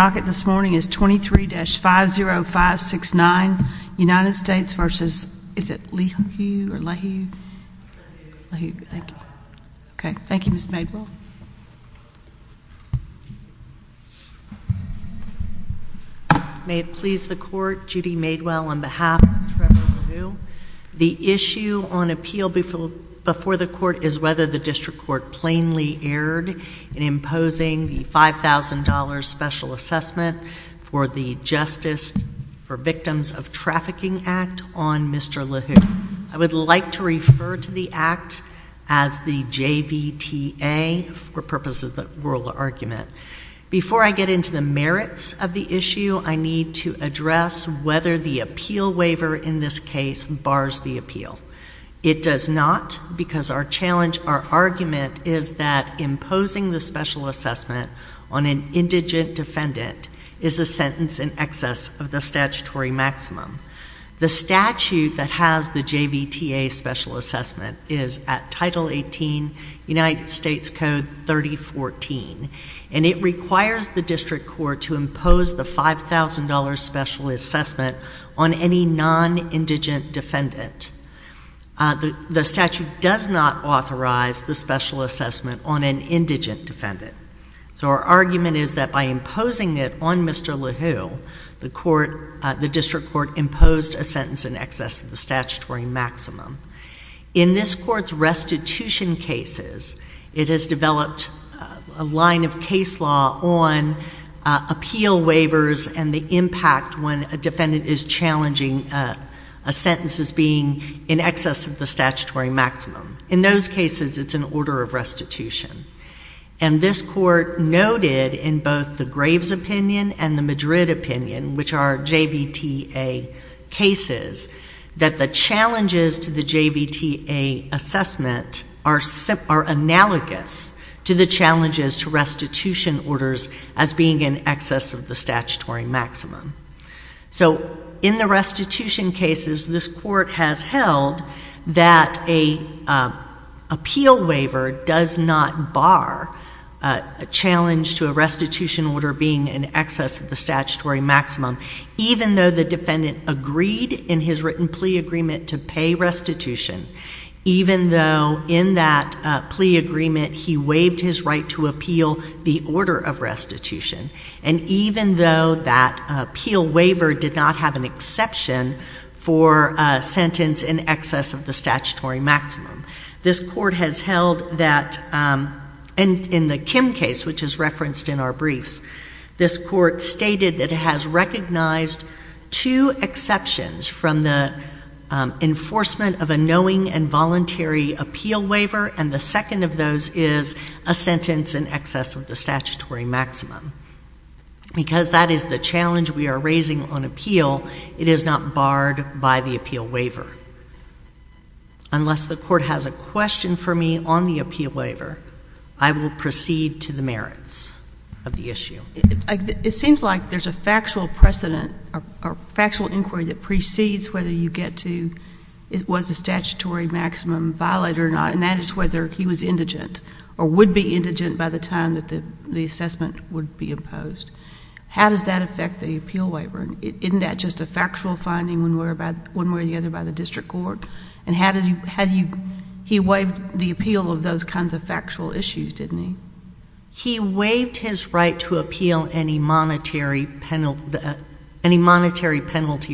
May it please the Court, Judy Madewell, on behalf of Trevor LaRue, the issue on appeal before the Court is whether the District Court plainly erred in imposing the $5,000 special assessment for the Justice for Victims of Trafficking Act on Mr. Lehew. I would like to refer to the act as the JVTA for purposes of the oral argument. Before I get into the merits of the issue, I need to address whether the appeal waiver in this case bars the appeal. It does not because our challenge, our argument is that imposing the special assessment on an indigent defendant is a sentence in excess of the statutory maximum. The statute that has the JVTA special assessment is at Title 18, United States Code 3014, and it requires the District Court to impose the $5,000 special assessment on any non-indigent defendant. The statute does not authorize the special assessment on an indigent defendant. So our argument is that by imposing it on Mr. Lehew, the District Court imposed a sentence in excess of the statutory maximum. In this Court's restitution cases, it has developed a line of case law on appeal waivers and the impact when a defendant is challenging a sentence as being in excess of the statutory maximum. In those cases, it's an order of restitution. And this Court noted in both the Graves opinion and the Madrid opinion, which are JVTA cases, that the challenges to the JVTA assessment are analogous to the challenges to restitution The Court has held that a appeal waiver does not bar a challenge to a restitution order being in excess of the statutory maximum, even though the defendant agreed in his written plea agreement to pay restitution, even though in that plea agreement he waived his right to appeal the order of restitution, and even though that appeal waiver did not have an for a sentence in excess of the statutory maximum. This Court has held that, and in the Kim case, which is referenced in our briefs, this Court stated that it has recognized two exceptions from the enforcement of a knowing and voluntary appeal waiver, and the second of those is a sentence in excess of the statutory maximum. Because that is the challenge we are raising on appeal, it is not barred by the appeal waiver. Unless the Court has a question for me on the appeal waiver, I will proceed to the merits of the issue. It seems like there's a factual precedent or factual inquiry that precedes whether you get to was the statutory maximum valid or not, and that is whether he was indigent or would be indigent by the time that the assessment would be imposed. How does that affect the appeal waiver? Isn't that just a factual finding one way or the other by the district court? And he waived the appeal of those kinds of factual issues, didn't he? He waived his right to appeal any monetary penalty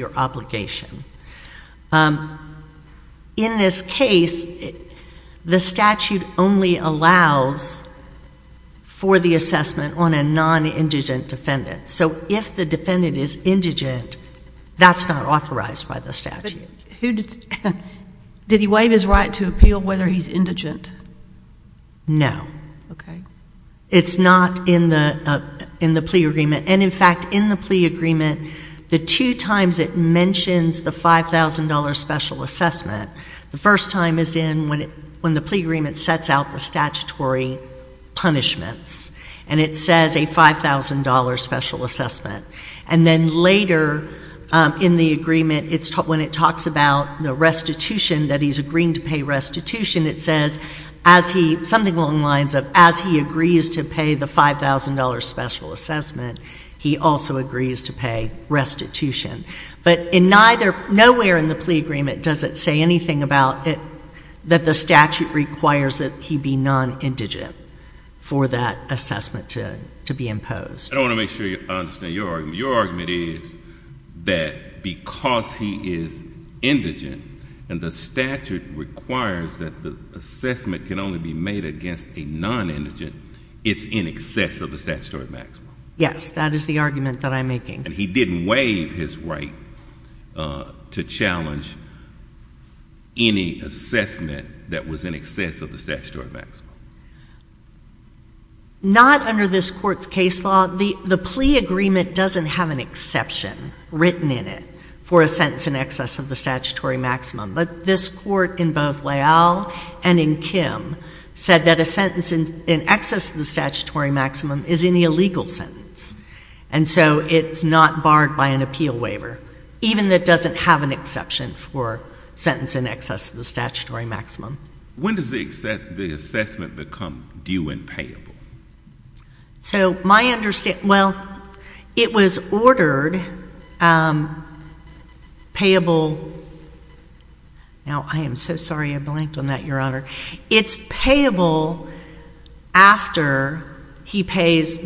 or obligation. In this case, the statute only allows for the assessment on a non-indigent defendant. So if the defendant is indigent, that's not authorized by the statute. Did he waive his right to appeal whether he's indigent? No. It's not in the plea agreement. And in fact, in the plea agreement, the two times it mentions the $5,000 special assessment, the first time is when the plea agreement sets out the statutory punishments, and it says a $5,000 special assessment. And then later in the agreement, when it talks about the restitution, that he's agreeing to pay restitution, it says as he, something along the lines of as he agrees to pay the $5,000 special assessment, he also agrees to pay restitution. But nowhere in the plea agreement does it say anything about that the statute requires that he be non-indigent for that assessment to be imposed. I want to make sure I understand your argument. Your argument is that because he is indigent and the statute requires that the assessment can only be made against a non-indigent, it's in excess of the statutory maximum. Yes, that is the argument that I'm making. And he didn't waive his right to challenge any assessment that was in excess of the statutory maximum. Not under this Court's case law. The plea agreement doesn't have an exception written in it for a sentence in excess of the statutory maximum. But this Court in both Leal and in Kim said that a sentence in excess of the statutory maximum is an illegal sentence. And so it's not barred by an appeal waiver, even though it doesn't have an exception for a sentence in excess of the statutory maximum. When does the assessment become due and payable? So my understanding, well, it was ordered payable, now I am so sorry I blanked on that, Your Honor. It's payable after he pays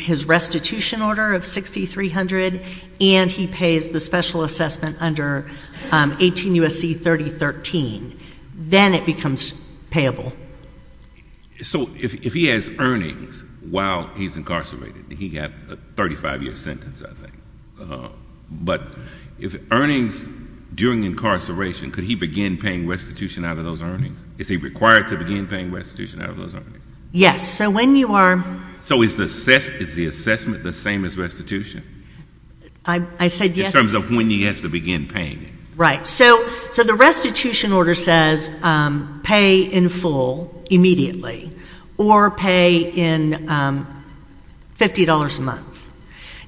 his restitution order of 6,300 and he pays the special assessment under 18 U.S.C. 3013. Then it becomes payable. So if he has earnings while he's incarcerated, he got a 35-year sentence, I think. But if he's incarcerated, is he required to begin paying restitution out of those earnings? Yes. So when you are So is the assessment the same as restitution in terms of when he has to begin paying it? Right. So the restitution order says pay in full immediately or pay in $50 a month.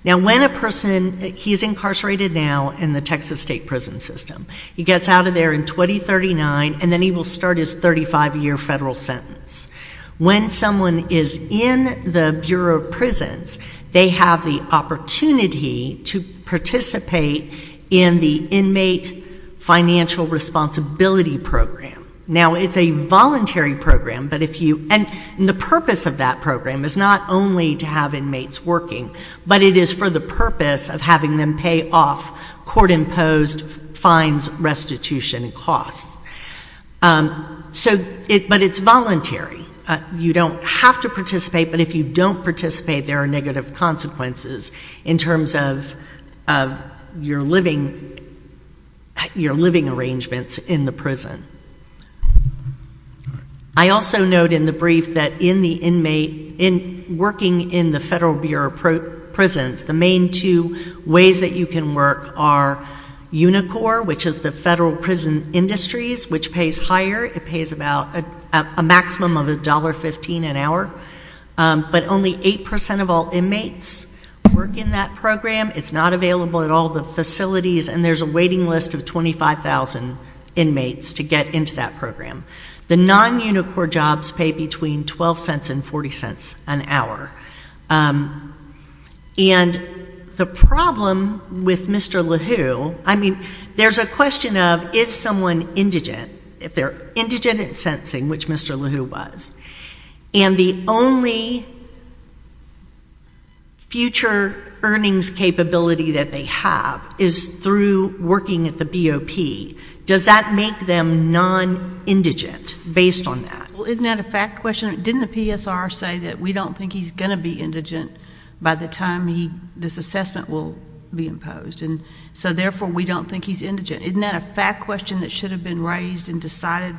Now when a person, he's incarcerated now in the Texas state prison system, he gets out of there in 2039 and then he will start his 35-year federal sentence. When someone is in the Bureau of Prisons, they have the opportunity to participate in the inmate financial responsibility program. Now it's a voluntary program, but if you, and the purpose of that program is not only to have inmates working, but it is for the purpose of having them pay off court-imposed fines, restitution, and costs. But it's voluntary. You don't have to participate, but if you don't participate, there are negative consequences in terms of your living arrangements in the I also note in the brief that in the inmate, in working in the federal Bureau of Prisons, the main two ways that you can work are Unicor, which is the federal prison industries, which pays higher. It pays about a maximum of $1.15 an hour. But only 8% of all inmates work in that program. It's not available at all the facilities, and there's a waiting list of 25,000 inmates to get into that program. The non-Unicor jobs pay between $0.12 and $0.40 an hour. And the problem with Mr. LaHue, I mean, there's a question of, is someone indigent? If they're indigent and sensing, which Mr. LaHue was, and the only future earnings capability that they have is through working at the BOP, does that make them non-indigent based on that? Well, isn't that a fact question? Didn't the PSR say that we don't think he's going to be indigent by the time this assessment will be imposed, and so therefore we don't think he's indigent. Isn't that a fact question that should have been raised and decided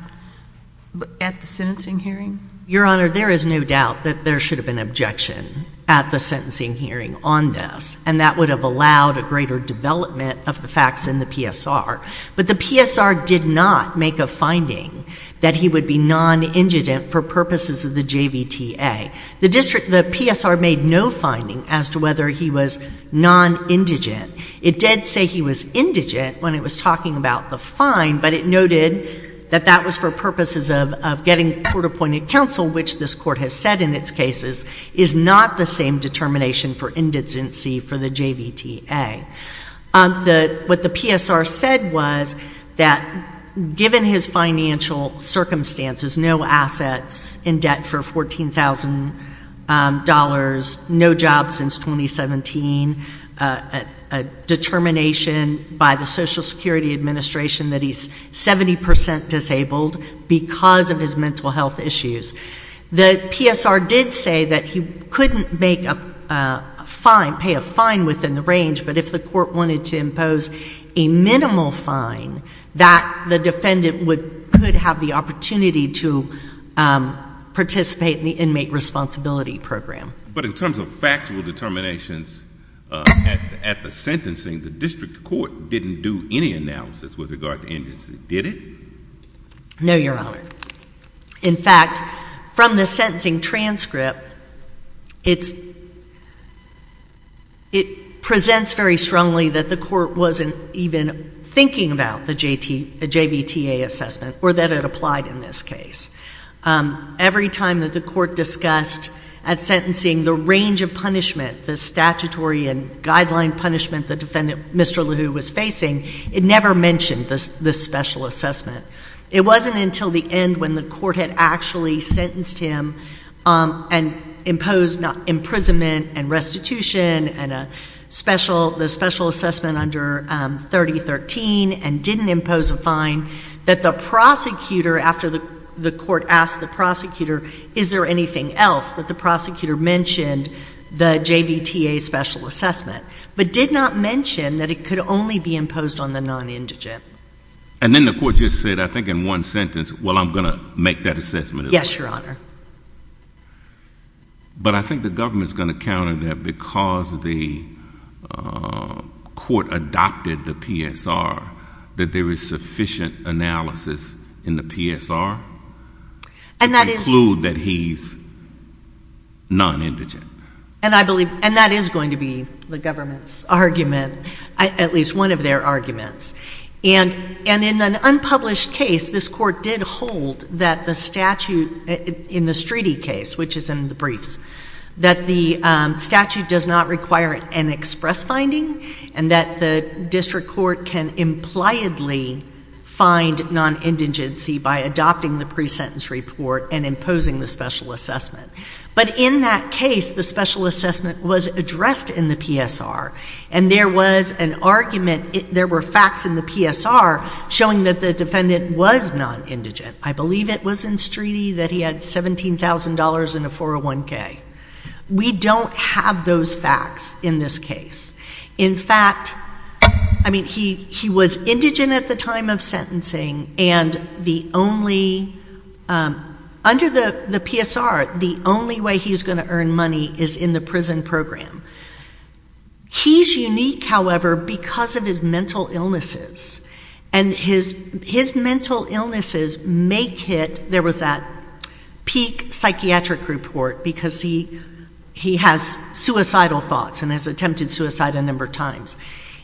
at the sentencing hearing? Your Honor, there is no doubt that there should have been objection at the sentencing hearing on this, and that would have allowed a greater development of the facts in the PSR. But the PSR did not make a finding that he would be non-indigent for purposes of the JVTA. The district, the PSR made no finding as to whether he was non-indigent. It did say he was indigent when it was talking about the fine, but it noted that that was for purposes of getting court-appointed counsel, which this Court has said in its cases is not the same determination for indigency for the JVTA. What the PSR said was that given his financial circumstances, no assets in debt for $14,000, no job since 2017, a determination by the Social Security Administration that he's 70 percent disabled because of his mental health issues. The PSR did say that he couldn't make a fine, pay a fine within the range, but if the Court wanted to impose a minimal fine, that the defendant would have the opportunity to participate in the inmate responsibility program. But in terms of factual determinations at the sentencing, the district court didn't do any analysis with regard to indigency, did it? No, Your Honor. In fact, from the sentencing transcript, it presents very strongly that the Court wasn't even thinking about the JVTA assessment or that it applied in this case. Every time that the Court discussed at sentencing the range of punishment, the statutory and guideline punishment the defendant, Mr. LeHoux, was facing, it never mentioned this special assessment. It wasn't until the end when the Court had actually sentenced him and imposed imprisonment and restitution and the special assessment under 3013 and didn't impose a fine that the prosecutor, after the Court asked the prosecutor, is there anything else that the prosecutor mentioned, the JVTA special assessment, but did not mention that it could only be imposed on the non-indigent. And then the Court just said, I think in one sentence, well, I'm going to make that assessment as well. Yes, Your Honor. But I think the government's going to counter that because the Court adopted the PSR, that there is sufficient analysis in the PSR to conclude that he's... non-indigent. And I believe, and that is going to be the government's argument, at least one of their arguments. And in an unpublished case, this Court did hold that the statute in the Streety case, which is in the briefs, that the statute does not require an express finding and that the district court can impliedly find non-indigency by adopting the pre-sentence report and imposing the special assessment. But in that case, the special assessment was addressed in the PSR, and there was an argument, there were facts in the PSR showing that the defendant was non-indigent. I believe it was in Streety that he had $17,000 and a 401K. We don't have those facts in this case. In fact, I mean, he was indigent at the time of sentencing, and the only... under the PSR, the only way he's going to earn money is in the prison program. He's unique, however, because of his mental illnesses. And his mental illnesses make it... there was that peak psychiatric report because he has suicidal thoughts and has attempted suicide a number of times.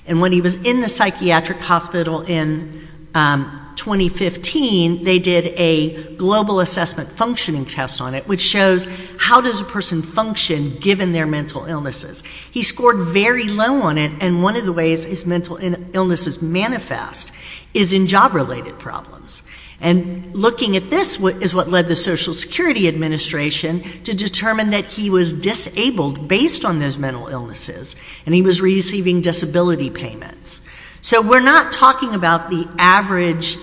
And when he was in the psychiatric hospital in 2015, they did a global assessment functioning test on it, which shows how does a person function given their mental illnesses. He scored very low on it, and one of the ways his mental illnesses manifest is in job-related problems. And looking at this is what led the Social Security Administration to determine that he was disabled based on those mental illnesses, and he was receiving disability payments. So we're not talking about the average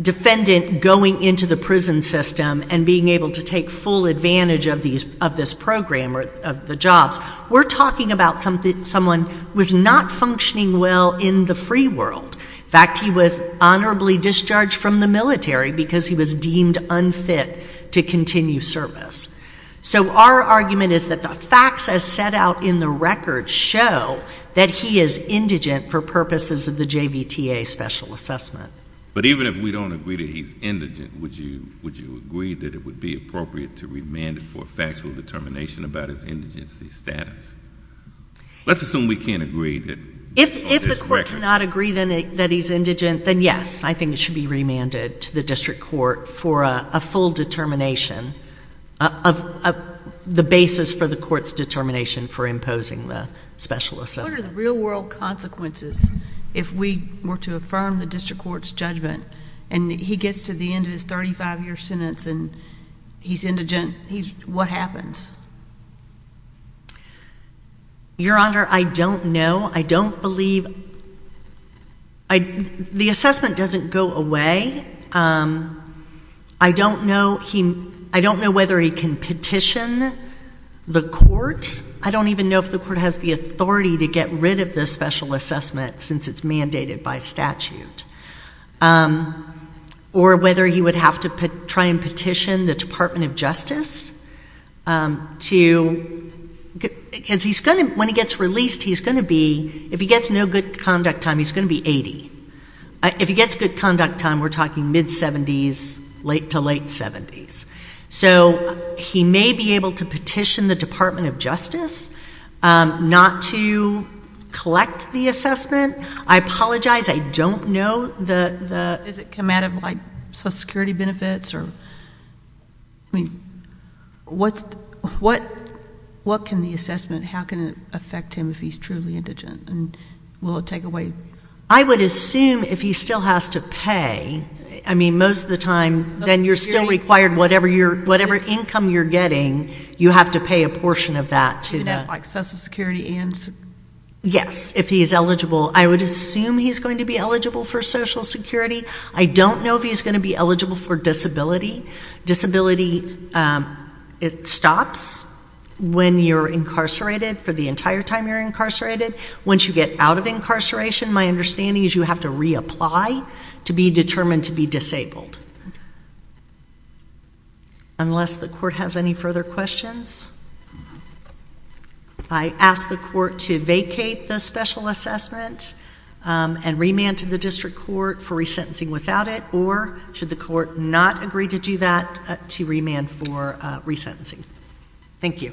defendant going into the prison system and being able to take full advantage of this program or the jobs. We're talking about someone who is not functioning well in the free world. In fact, he was honorably discharged from the military because he was deemed unfit to continue service. So our argument is that facts as set out in the record show that he is indigent for purposes of the JVTA special assessment. But even if we don't agree that he's indigent, would you agree that it would be appropriate to remand him for a factual determination about his indigency status? Let's assume we can't agree that... If the court cannot agree that he's indigent, then yes, I think it should be remanded to the district court for a full determination, the basis for the court's determination for imposing the special assessment. What are the real-world consequences if we were to affirm the district court's judgment and he gets to the end of his 35-year sentence and he's indigent? What happens? Your Honor, I don't know. I don't believe... The assessment doesn't go away. I don't know whether he can petition the court. I don't even know if the court has the authority to get rid of the special assessment since it's mandated by statute. Or whether he would have to try and petition the Department of Justice to... When he gets released, he's going to be... If he gets no good conduct time, he's going to be 80. If he gets good conduct time, we're talking mid-70s, late to late 70s. So he may be able to petition the Department of Justice not to collect the assessment. I apologize, I don't know the... Does it come out of social security benefits? What can the assessment... How can it affect him if he's truly indigent? Will it take away... I would assume if he still has to pay, I mean, most of the time, then you're still required whatever income you're getting, you have to pay a portion of that to... You mean like social security and... Yes, if he's eligible. I would assume he's going to be eligible for social security. I don't know if he's going to be eligible for disability. Disability, it stops when you're incarcerated for the entire time you're incarcerated. Once you get out of incarceration, my understanding is you have to reapply to be determined to be disabled. Unless the court has any further questions? I ask the court to vacate the special assessment and remand to the district court for resentencing without it, or should the court not agree to do that, to remand for resentencing? Thank you.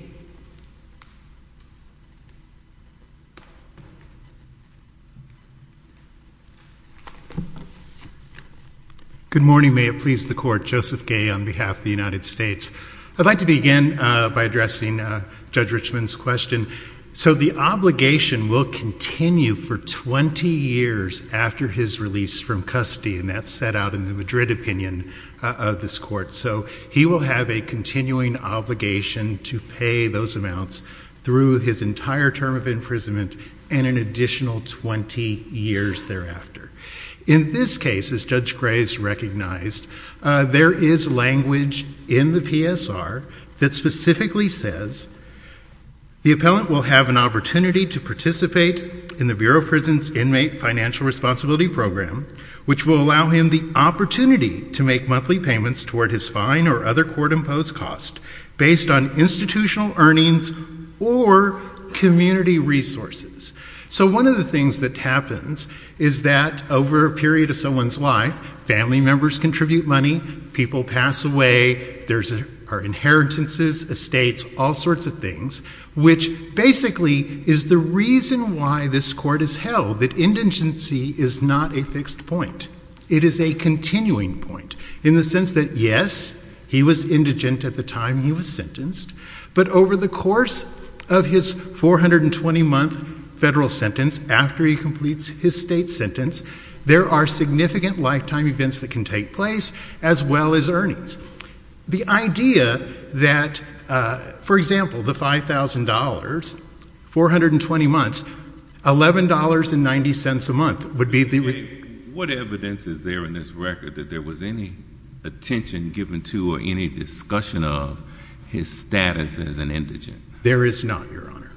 Good morning. May it please the court. Joseph Gay on behalf of the United States. I'd like to begin by addressing Judge Richman's question. The obligation will continue for 20 years after his release from custody, and that's set out in the Madrid opinion of this court. He will have a continuing obligation to pay those amounts through his entire term of imprisonment and an additional 20 years thereafter. In this case, as Judge Gray has recognized, there is language in the PSR that specifically says the appellant will have an opportunity to participate in the Bureau of Prisons Inmate Financial Responsibility Program, which will allow him the opportunity to make monthly payments toward his fine or other court-imposed cost based on institutional earnings or community resources. So one of the things that happens is that over a period of someone's life, family members contribute money, people pass away, there are inheritances, estates, all sorts of things, which basically is the reason why this court has held that indigency is not a fixed point. It is a continuing point, in the sense that, yes, he was indigent at the time he was sentenced, but over the course of his 420-month federal sentence, after he completes his state sentence, there are significant lifetime events that can take place, as well as earnings. The idea that, for example, the $5,000, 420 months, $11.90 a month would be the... What evidence is there in this record that there was any attention given to or any discussion of his status as an indigent? There is not, Your Honor.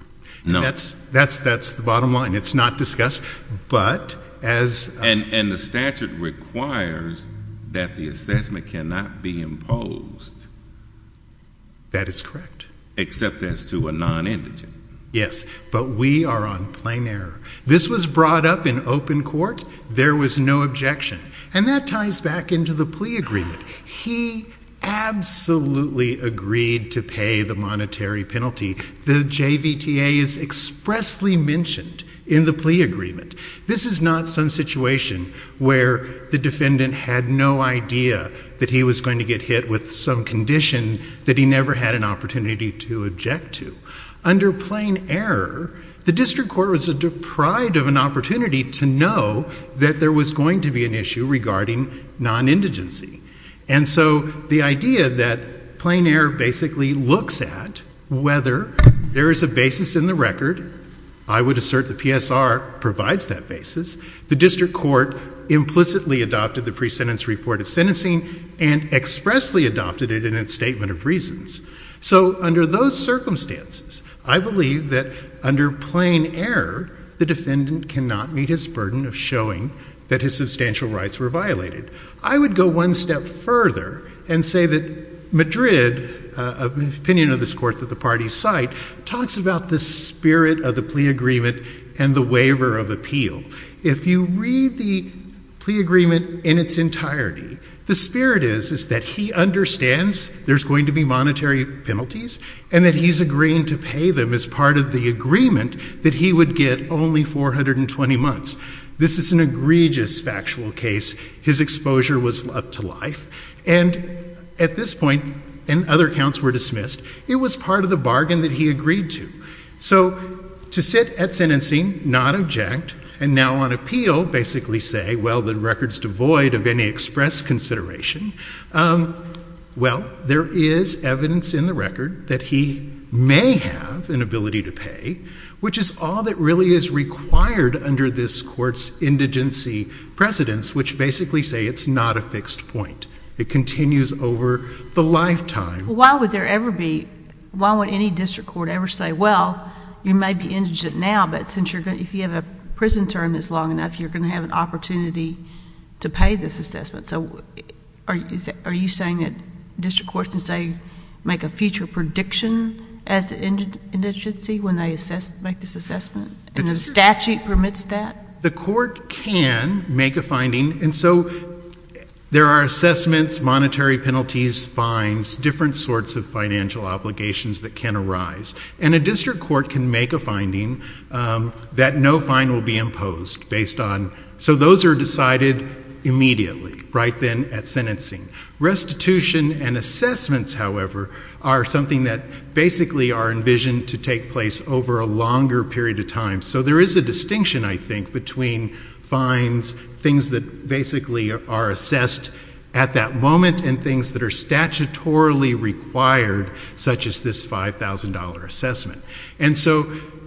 No. That's the bottom line. It's not discussed, but as... And the statute requires that the assessment cannot be imposed. That is correct. Except as to a non-indigent. Yes, but we are on plain error. This was brought up in open court. There was no objection. And that ties back into the plea agreement. He absolutely agreed to pay the monetary penalty. The JVTA is expressly mentioned in the plea agreement. This is not some situation where the defendant had no idea that he was going to get hit with some condition that he never had an opportunity to object to. Under plain error, the district court was deprived of an opportunity to know that there was going to be an issue regarding non-indigency. And so the idea that plain error basically looks at whether there is a basis in the record. I would assert the PSR provides that basis. The district court implicitly adopted the sentence report of sentencing and expressly adopted it in its statement of reasons. So under those circumstances, I believe that under plain error, the defendant cannot meet his burden of showing that his substantial rights were violated. I would go one step further and say that Madrid, an opinion of this court that the parties cite, talks about the spirit of the plea agreement and the waiver of appeal. If you read the plea agreement in its entirety, the spirit is that he understands there's going to be monetary penalties and that he's agreeing to pay them as part of the agreement that he would get only 420 months. This is an egregious factual case. His exposure was up to life. And at this point, and other counts were dismissed, it was part of the bargain that he agreed to. So to sit at sentencing, not object, and now on appeal basically say, well, the record's devoid of any express consideration, well, there is evidence in the record that he may have an ability to pay, which is all that really is required under this court's indigency precedence, which basically say it's not a fixed point. It continues over the lifetime. Why would there ever be, why would any district court ever say, well, you may be indigent now, but if you have a prison term that's long enough, you're going to have an opportunity to pay this assessment. So are you saying that district courts can say, make a future prediction as to indigency when they make this assessment, and the statute permits that? The court can make a finding, and so there are assessments, monetary penalties, fines, different sorts of financial obligations that can arise. And a district court can make a finding that no fine will be imposed based on, so those are decided immediately, right then at sentencing. Restitution and assessments, however, are something that basically are envisioned to take place over a longer period of time. So there is a distinction, I think, between fines, things that basically are assessed at that moment, and things that are statutorily required, such as this $5,000 assessment. And so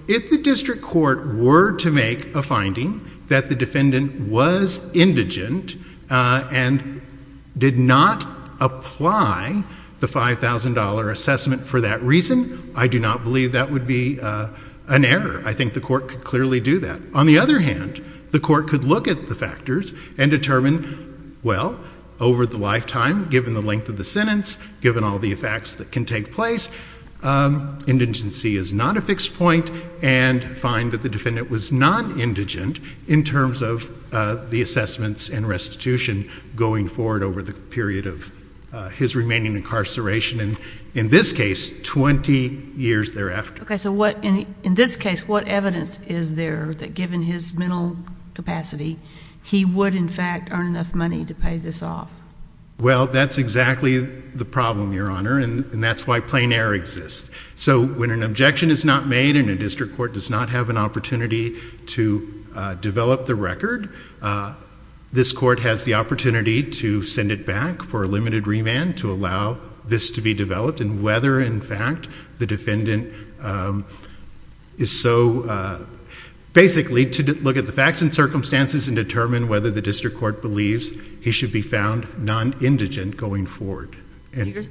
if the district court were to make a finding that the defendant was indigent and did not apply the $5,000 assessment for that reason, I do not believe that would be an error. I think the court could clearly do that. On the other hand, the court could look at the factors and determine, well, over the lifetime, given the length of the sentence, given all the effects that can take place, indigency is not a fixed point, and find that the defendant was non-indigent in terms of the assessments and restitution going forward over the period of his remaining incarceration, in this case, 20 years thereafter. Okay. So in this case, what evidence is there that given his mental capacity, he would in fact earn enough money to pay this off? Well, that's exactly the problem, Your Honor, and that's why plain error exists. So when an objection is not made and a district court does not have an opportunity to develop the record, this court has the opportunity to send it back for a limited remand to allow this to be developed and whether in fact the defendant is so basically to look at the facts and circumstances and determine whether the district court believes he should be found non-indigent going forward.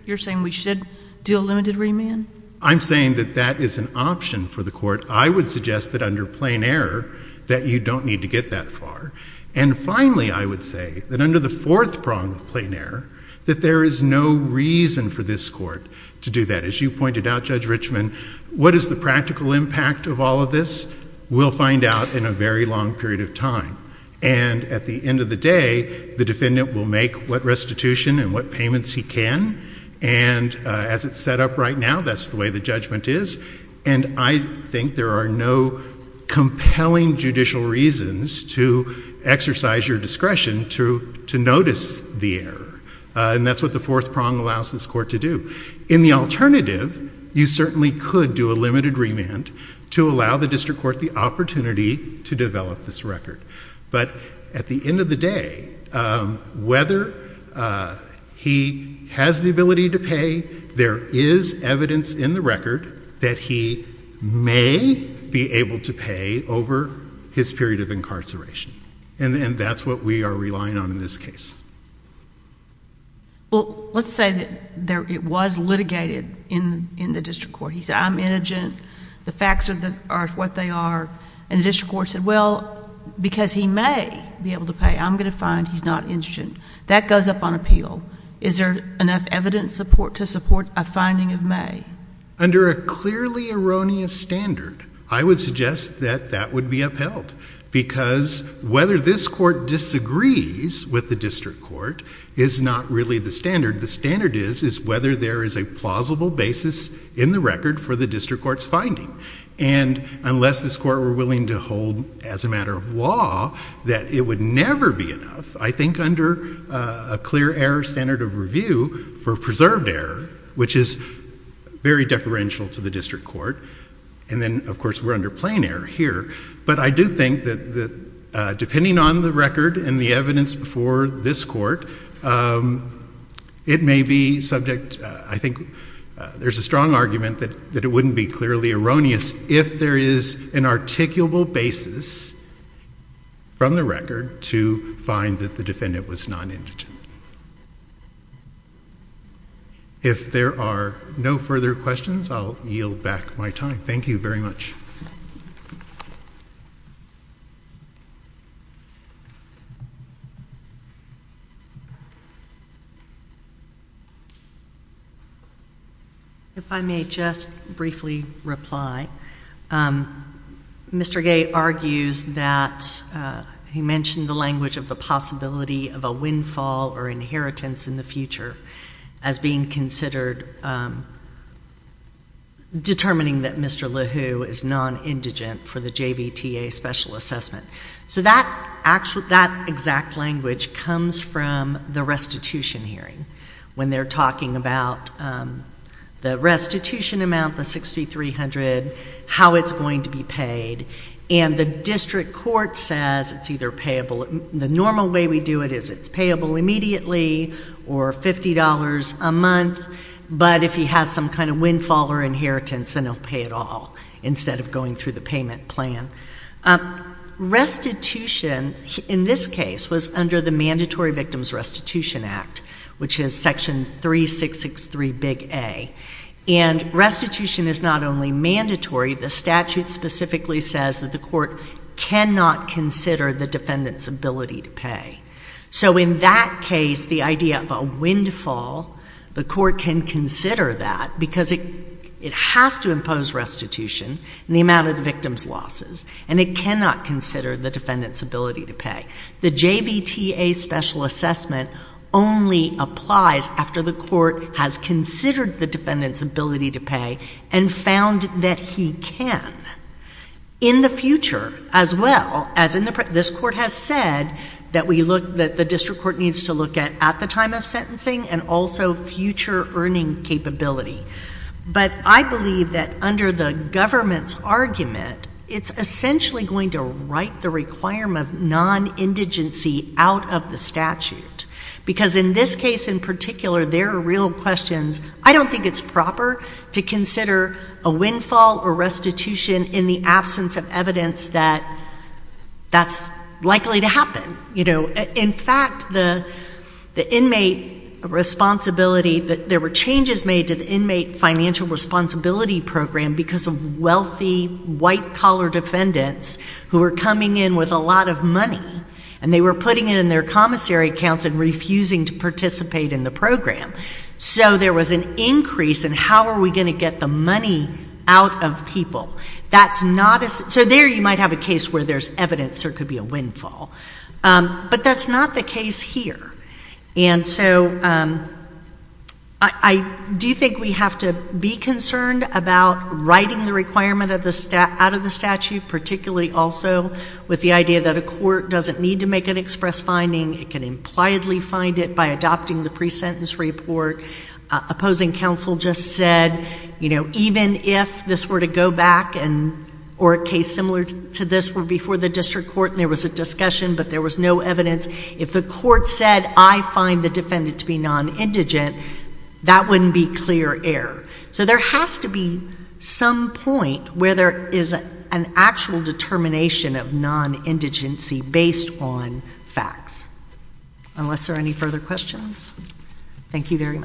You're saying we should do a limited remand? I'm saying that that is an option for the court. I would suggest that under plain error that you don't need to get that far. And finally, I would say that under the fourth prong of plain error, that there is no reason for this court to do that. As you pointed out, Judge Richman, what is the practical impact of all of this? We'll find out in a very long period of time. And at the end of the day, the defendant will make what restitution and what payments he can. And as it's set up right now, that's the way the judgment is. And I think there are no compelling judicial reasons to exercise your discretion to notice the error. And that's what the fourth prong allows this court to do. In the alternative, you certainly could do a limited remand to allow the district court the opportunity to develop this record. But at the end of the day, whether he has the ability to pay, there is evidence in the record that he may be able to pay over his period of incarceration. And that's what we are relying on in this case. Well, let's say that it was litigated in the district court. He said, I'm indigent. The facts are what they are. And the district court said, well, because he may be able to pay, I'm going to find he's not indigent. That goes up on appeal. Is there enough evidence to support a finding of may? Under a clearly erroneous standard, I would suggest that that would be upheld. Because whether this court disagrees with the district court is not really the standard. The standard is whether there is a plausible basis in the record for the district court's finding. And unless this court were willing to hold as a matter of law that it would never be enough, I think under a clear error standard of review for preserved error, which is very deferential to the district court, and then of course we're under plain error here. But I do think that depending on the record and the evidence before this court, it may be subject, I think there's a strong argument that it wouldn't be clearly erroneous if there is an articulable basis from the record to find that the defendant was not indigent. If there are no further questions, I'll yield back my time. Thank you very much. If I may just briefly reply. Mr. Gay argues that he mentioned the language of the possibility of a windfall or inheritance in the future as being considered, determining that Mr. LeHoux is nonindigent for the JVTA special assessment. So that exact language comes from the restitution hearing, when they're talking about the restitution amount, the 6,300, how it's going to be paid. And the district court says it's either payable, the normal way we do it is it's payable immediately, or $50 a month, but if he has some kind of windfall or inheritance, then he'll pay it all, instead of going through the payment plan. Restitution, in this case, was under the Mandatory Victims Restitution Act, which is Section 3663, Big A. And restitution is not only mandatory, the statute specifically says that the court cannot consider the defendant's ability to pay. So in that case, the idea of a windfall, the court can consider that, because it has to impose restitution in the amount of the victim's losses, and it cannot consider the defendant's ability to pay. The JVTA special assessment only applies after the court has considered the defendant's ability to pay and found that he can. In the future, as well, as this court has said, that we look, that the district court needs to look at at the time of sentencing, and also future earning capability. But I believe that under the government's argument, it's essentially going to write the requirement of non-indigency out of the statute, because in this case in particular, there are real questions. I don't think it's proper to consider a windfall or restitution in the absence of evidence that that's likely to happen. You know, in fact, the inmate responsibility, there were changes made to the inmate financial responsibility program because of wealthy white-collar defendants who were coming in with a lot of money, and they were putting it in their commissary accounts and refusing to participate in the program. So there was an increase in how are we going to get the money out of people. That's not a, so there you might have a case where there's evidence there could be a windfall. But that's not the case here. And so I do think we have to be concerned about writing the requirement of the, out of the statute, particularly also with the idea that a court doesn't need to make an express finding. It can impliedly find it by adopting the pre-sentence report. Opposing counsel just said, you know, even if this were to go back and, or a case similar to this were before the district court and there was a discussion but there was no evidence, if the court said, I find the defendant to be non-indigent, that wouldn't be clear error. So there has to be some point where there is an actual determination of non-indigency based on facts. Unless there are any further questions, thank you very much.